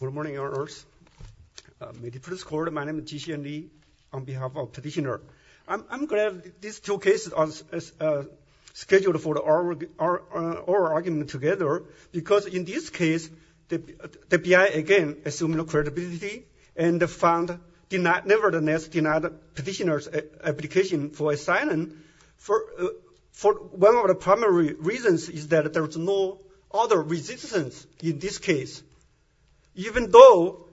Good morning, honors. May the prince court, my name is Ji-Hsien Lee on behalf of petitioner. I'm glad these two cases are scheduled for our argument together, because in this case, the BI, again, assume no credibility, and found, nevertheless, denied petitioner's application for asylum for one of the primary reasons is that there was no other resistance in this case. Even though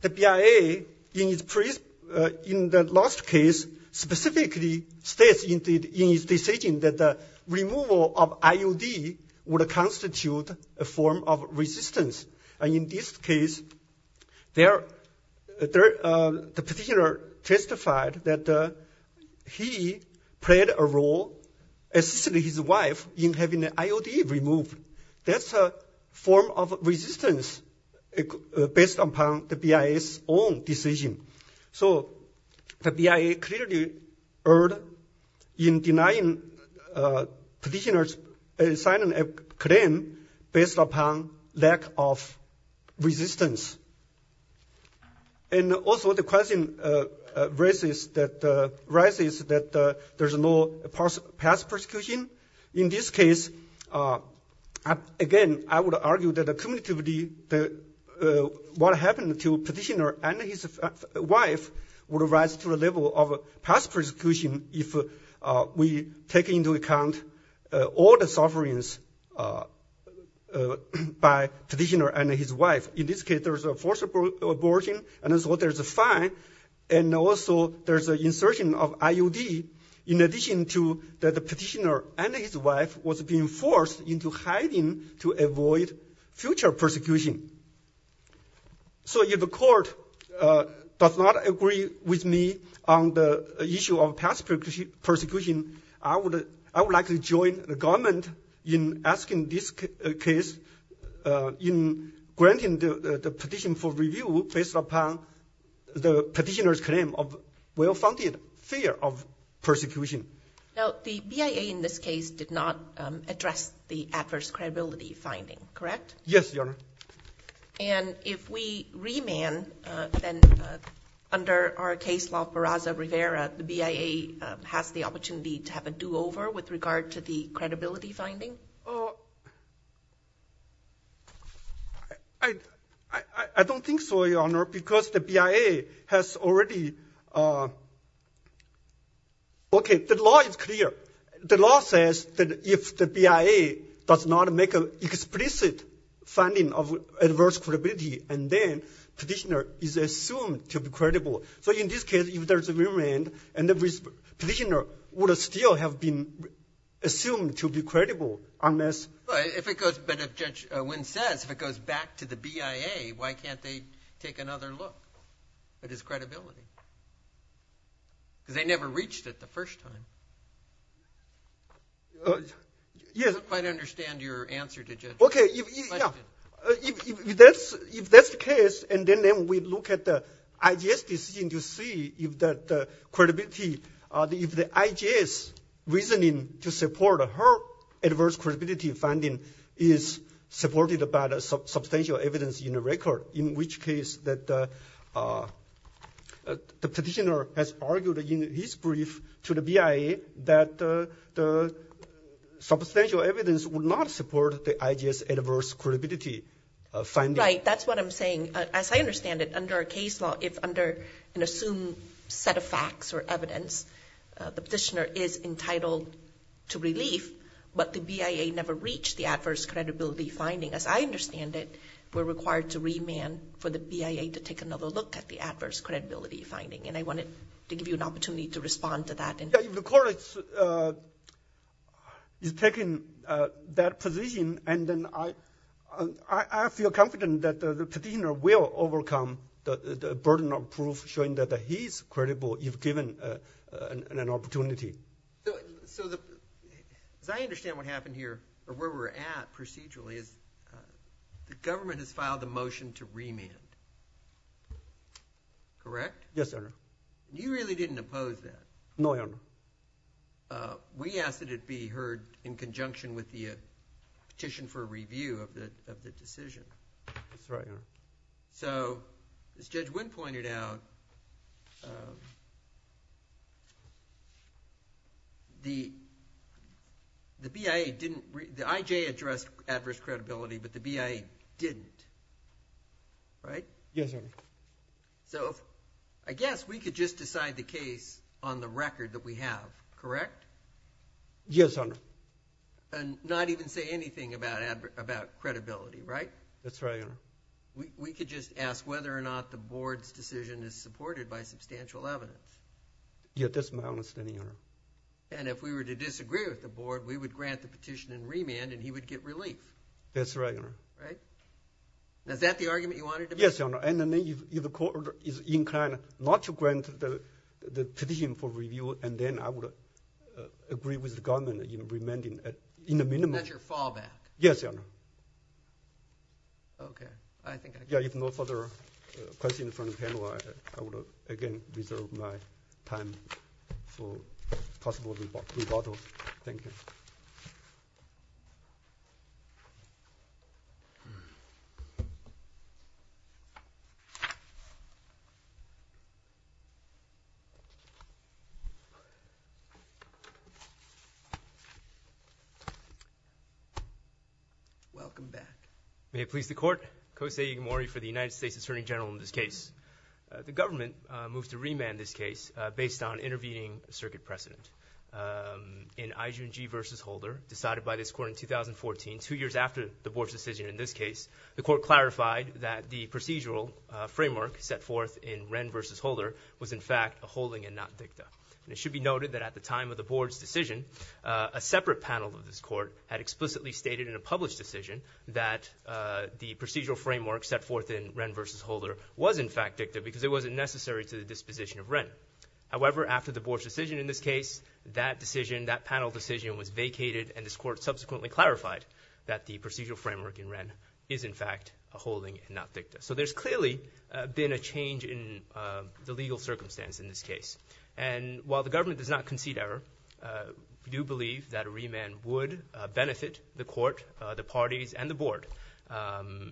the BIA, in the last case, specifically states in his decision that the removal of IOD would constitute a form of resistance. And in this case, the petitioner testified that he played a role, assisted his wife in having the IOD removed. That's a form of resistance based upon the BIA's own decision. So the BIA clearly erred in denying petitioner's asylum claim based upon lack of resistance. And also, the question arises that there's no past persecution. In this case, again, I would argue that the community, what happened to petitioner and his wife would rise to the level of past persecution if we take into account all the sufferings by petitioner and his wife. In this case, there's a forced abortion, and so there's a fine, and also, there's an insertion of IOD in addition to that the petitioner and his wife was being forced into hiding to avoid future persecution. So if the court does not agree with me on the issue of past persecution, I would like to join the government in asking this case, in granting the petition for review based upon the petitioner's claim of well-founded fear of persecution. Now, the BIA in this case did not address the adverse credibility finding, correct? Yes, Your Honor. And if we remand, then under our case law, Barraza-Rivera, the BIA has the opportunity to have a do-over with regard to the credibility finding? I don't think so, Your Honor, because the BIA has already... Okay, the law is clear. The law says that if the BIA does not make an explicit finding of adverse credibility, and then petitioner is assumed to be credible. So in this case, if there's a remand, and the petitioner would still have been assumed to be credible, unless... But if Judge Wynn says, if it goes back to the BIA, why can't they take another look at his credibility? Because they never reached it the first time. Yes. I don't quite understand your answer to Judge Wynn. Okay, if that's the case, and then we look at the IJS decision to see if the IJS reasoning to support her adverse credibility finding is supported by the substantial evidence in the record, in which case the petitioner has argued in his brief to the BIA that the substantial evidence would not support the IJS adverse credibility finding. Right, that's what I'm saying. As I understand it, under a case law, if under an assumed set of facts or evidence, the petitioner is entitled to relief, but the BIA never reached the adverse credibility finding, as I understand it, we're required to remand for the BIA to take another look at the adverse credibility finding. And I wanted to give you an opportunity to respond to that. Yeah, if the court is taking that position, and then I feel confident that the petitioner will overcome the burden of proof, showing that he's credible, if given an opportunity. So, as I understand what happened here, or where we're at procedurally, is the government has filed a motion to remand. Correct? Yes, Your Honor. You really didn't oppose that. No, Your Honor. We asked that it be heard in conjunction with the petition for review of the decision. That's right, Your Honor. So, as Judge Wynn pointed out, the BIA didn't, the IJ addressed adverse credibility, but the BIA didn't, right? Yes, Your Honor. So, I guess we could just decide the case on the record that we have, correct? Yes, Your Honor. And not even say anything about credibility, right? That's right, Your Honor. We could just ask whether or not the board's decision is supported by substantial evidence. Yeah, that's my understanding, Your Honor. And if we were to disagree with the board, we would grant the petition and remand, and he would get relief. That's right, Your Honor. Right? Is that the argument you wanted to make? Yes, Your Honor, and then if the court is inclined not to grant the petition for review, and then I would agree with the government in remanding in the minimum. That's your fallback. Yes, Your Honor. Okay, I think I got it. Yeah, if no further questions from the panel, I will again reserve my time for possible rebuttal. Thank you. Welcome back. May it please the court, Kosei Igamori for the United States Attorney General in this case. The government moves to remand this case based on intervening circuit precedent. In Ijun G. v. Holder, decided by this court in 2014, two years after the board's decision in this case, the court clarified that the procedural framework set forth in Wren v. Holder was in fact a holding and not dicta. It should be noted that at the time of the board's decision, a separate panel of this court had explicitly stated in a published decision that the procedural framework set forth in Wren v. Holder was in fact dicta because it wasn't necessary to the disposition of Wren. However, after the board's decision in this case, that decision, that panel decision was vacated and this court subsequently clarified that the procedural framework in Wren is in fact a holding and not dicta. So there's clearly been a change in the legal circumstance in this case. we do believe that a remand would benefit the court, the parties, and the board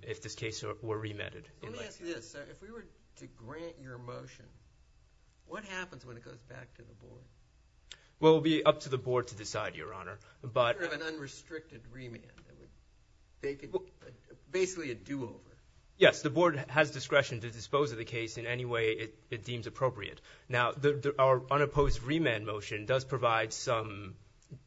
if this case were remanded. Let me ask you this, sir. If we were to grant your motion, what happens when it goes back to the board? Well, it would be up to the board to decide, Your Honor. But- Sort of an unrestricted remand. Basically a do-over. Yes, the board has discretion to dispose of the case in any way it deems appropriate. Now, our unopposed remand motion does provide some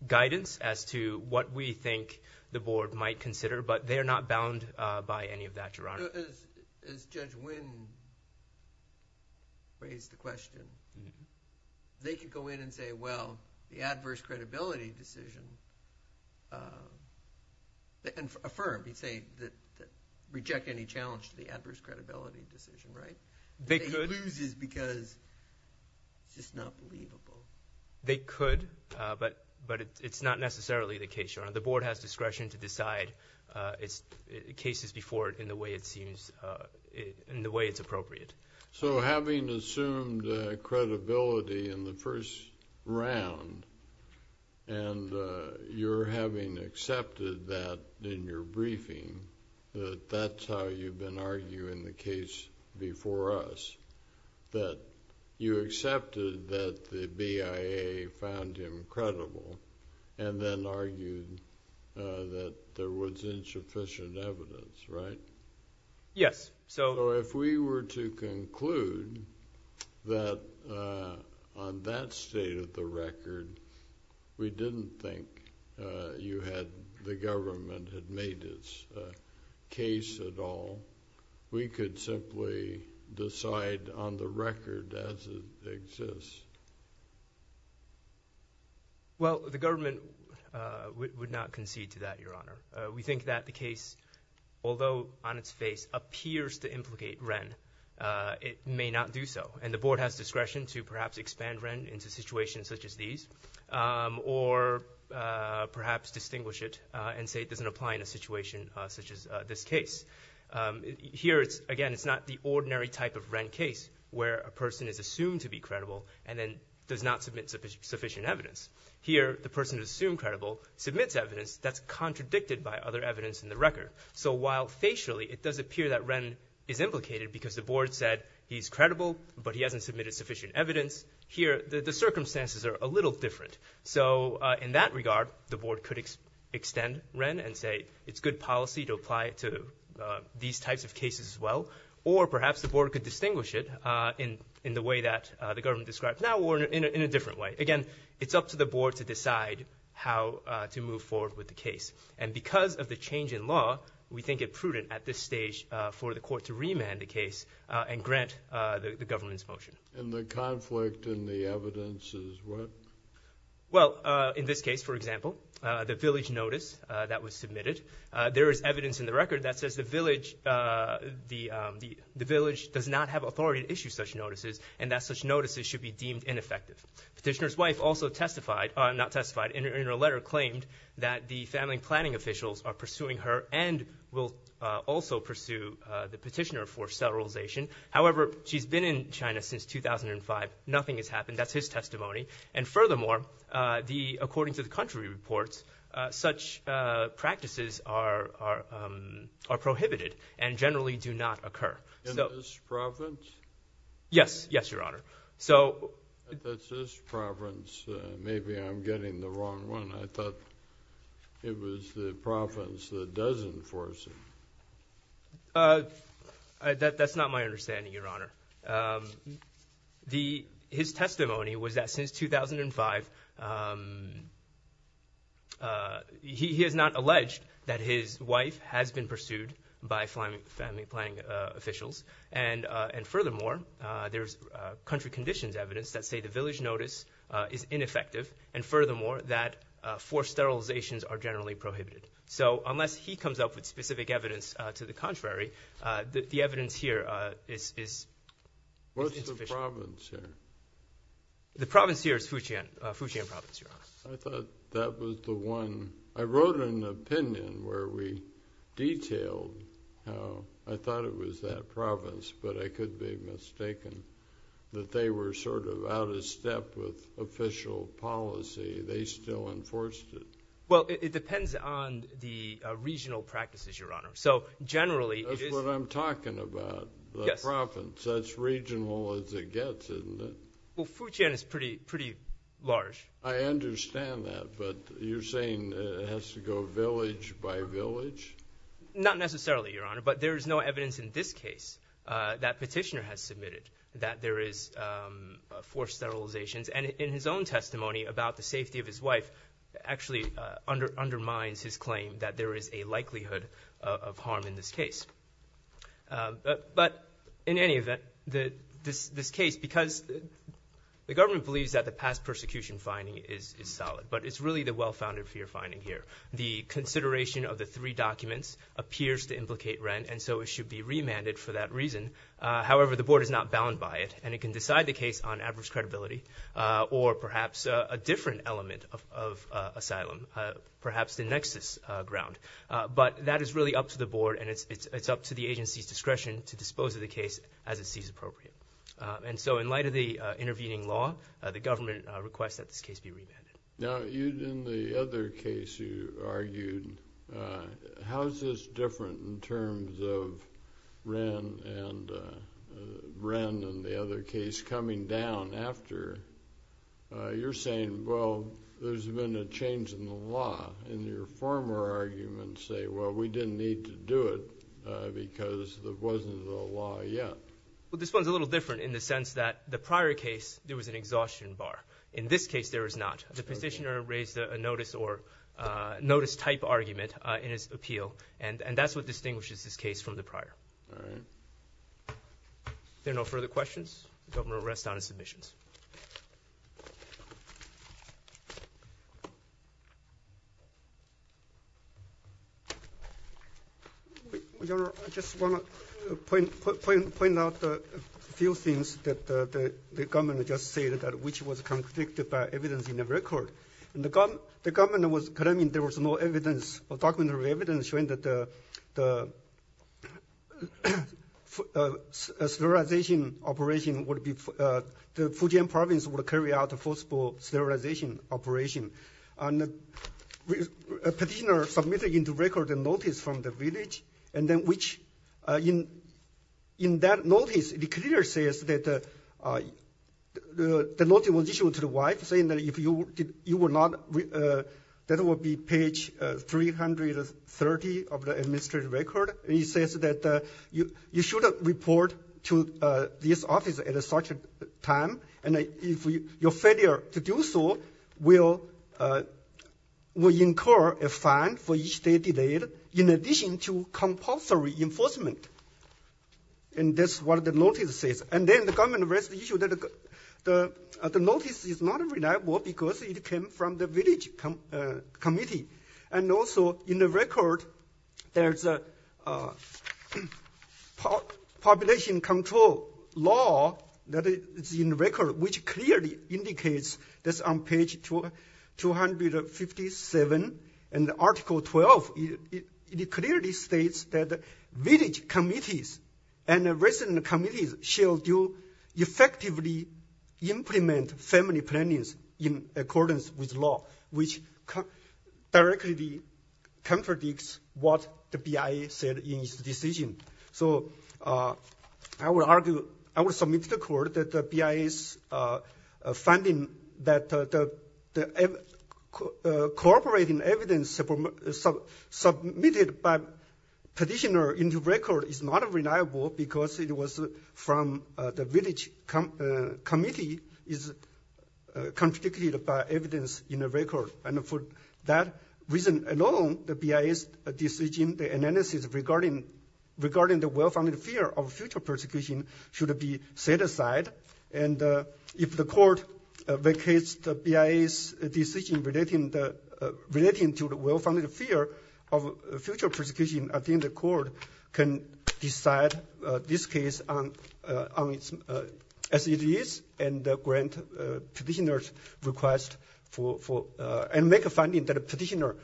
guidance as to what we think the board might consider, but they're not bound by any of that, Your Honor. As Judge Wynn raised the question, they could go in and say, well, the adverse credibility decision, and affirm, you'd say, reject any challenge to the adverse credibility decision, right? They could- That he loses because it's just not believable. They could, but it's not necessarily the case, Your Honor. The board has discretion to decide cases before it in the way it seems, in the way it's appropriate. So having assumed credibility in the first round and your having accepted that in your briefing, that that's how you've been arguing the case before us, that you accepted that the BIA found him credible and then argued that there was insufficient evidence, right? Yes, so- So if we were to conclude that on that state of the record, we didn't think you had, the government had made its case at all, we could simply decide on the record as it exists. Well, the government would not concede to that, Your Honor. We think that the case, although on its face, appears to implicate Wren, it may not do so. And the board has discretion to perhaps expand Wren into situations such as these, or perhaps distinguish it and say it doesn't apply in a situation such as this case. Here, again, it's not the ordinary type of Wren case where a person is assumed to be credible and then does not submit sufficient evidence. Here, the person assumed credible submits evidence that's contradicted by other evidence in the record. So while facially, it does appear that Wren is implicated because the board said he's credible, but he hasn't submitted sufficient evidence, here, the circumstances are a little different. So in that regard, the board could extend Wren and say it's good policy to apply it to these types of cases as well, or perhaps the board could distinguish it in the way that the government describes now or in a different way. Again, it's up to the board to decide how to move forward with the case. And because of the change in law, we think it prudent at this stage for the court to remand the case and grant the government's motion. And the conflict in the evidence is what? Well, in this case, for example, the village notice that was submitted, there is evidence in the record that says the village does not have authority to issue such notices and that such notices should be deemed ineffective. Petitioner's wife also testified, not testified, in her letter claimed that the family planning officials are pursuing her and will also pursue the petitioner for federalization. However, she's been in China since 2005. Nothing has happened. That's his testimony. And furthermore, according to the country reports, such practices are prohibited and generally do not occur. So- In this province? Yes, yes, Your Honor. So- That's his province. Maybe I'm getting the wrong one. I thought it was the province that does enforce it. That's not my understanding, Your Honor. His testimony was that since 2005, he has not alleged that his wife has been pursued by family planning officials. And furthermore, there's country conditions evidence that say the village notice is ineffective. And furthermore, that forced sterilizations are generally prohibited. So unless he comes up with specific evidence to the contrary, the evidence here is insufficient. What's the province here? The province here is Fujian, Fujian province, Your Honor. I thought that was the one. I wrote an opinion where we detailed how, I thought it was that province, but I could be mistaken, that they were sort of out of step with official policy. They still enforced it. Well, it depends on the regional practices, Your Honor. Generally, it is- That's what I'm talking about, the province. That's regional as it gets, isn't it? Well, Fujian is pretty large. I understand that, but you're saying it has to go village by village? Not necessarily, Your Honor, but there is no evidence in this case that petitioner has submitted that there is forced sterilizations. And in his own testimony about the safety of his wife, actually undermines his claim that there is a likelihood of harm in this case. But in any event, this case, because the government believes that the past persecution finding is solid, but it's really the well-founded fear finding here. The consideration of the three documents appears to implicate rent, and so it should be remanded for that reason. However, the board is not bound by it, and it can decide the case on adverse credibility, or perhaps a different element of asylum, perhaps the nexus ground. But that is really up to the board, and it's up to the agency's discretion to dispose of the case as it sees appropriate. And so, in light of the intervening law, the government requests that this case be remanded. Now, in the other case you argued, how is this different in terms of Wren and the other case coming down after? You're saying, well, there's been a change in the law, and your former arguments say, well, we didn't need to do it because there wasn't a law yet. Well, this one's a little different in the sense that the prior case, there was an exhaustion bar. In this case, there is not. The petitioner raised a notice type argument in his appeal, and that's what distinguishes this case from the prior. There are no further questions. The government will rest on its submissions. Your Honor, I just want to point out a few things that the government just stated, which was conflicted by evidence in the record. In the government was claiming there was no evidence, or documentary evidence, showing that the sterilization operation would be, the Fujian province would carry out a possible sterilization operation. A petitioner submitted in the record a notice from the village, and then which, in that notice, it clearly says that the notice was issued to the wife, saying that if you were not, that it would be page 330 of the administrative record, and it says that you should report to this office at a certain time, and if your failure to do so, we'll incur a fine for each day delayed, in addition to compulsory enforcement. And that's what the notice says. And then the government raised the issue that the notice is not reliable because it came from the village committee. And also, in the record, there's a population control law that is in the record, which clearly indicates that's on page 257, and article 12, it clearly states that village committees and resident committees shall do effectively implement family plannings in accordance with law, which directly contradicts what the BIA said in its decision. So I would submit to the court that the BIA's finding that the cooperating evidence submitted by petitioner in the record is not reliable because it was from the village committee is contradicted by evidence in the record. And for that reason alone, the BIA's decision, the analysis regarding the well-founded fear of future persecution should be set aside. And if the court vacates the BIA's decision relating to the well-founded fear of future persecution, I think the court can decide this case as it is, and grant petitioner's request and make a finding that a petitioner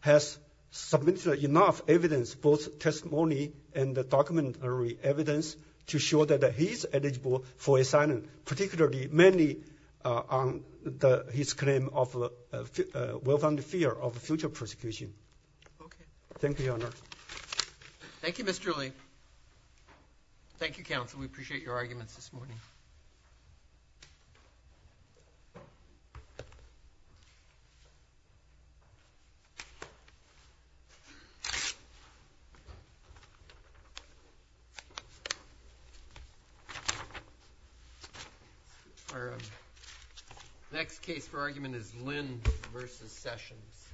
has submitted enough evidence, both testimony and the documentary evidence, to show that he's eligible for asylum, particularly, mainly on his claim of well-founded fear of future persecution. Okay, thank you, Your Honor. Thank you, Mr. Li. Thank you, counsel. We appreciate your arguments this morning. Thank you. Our next case for argument is Lind versus Sessions.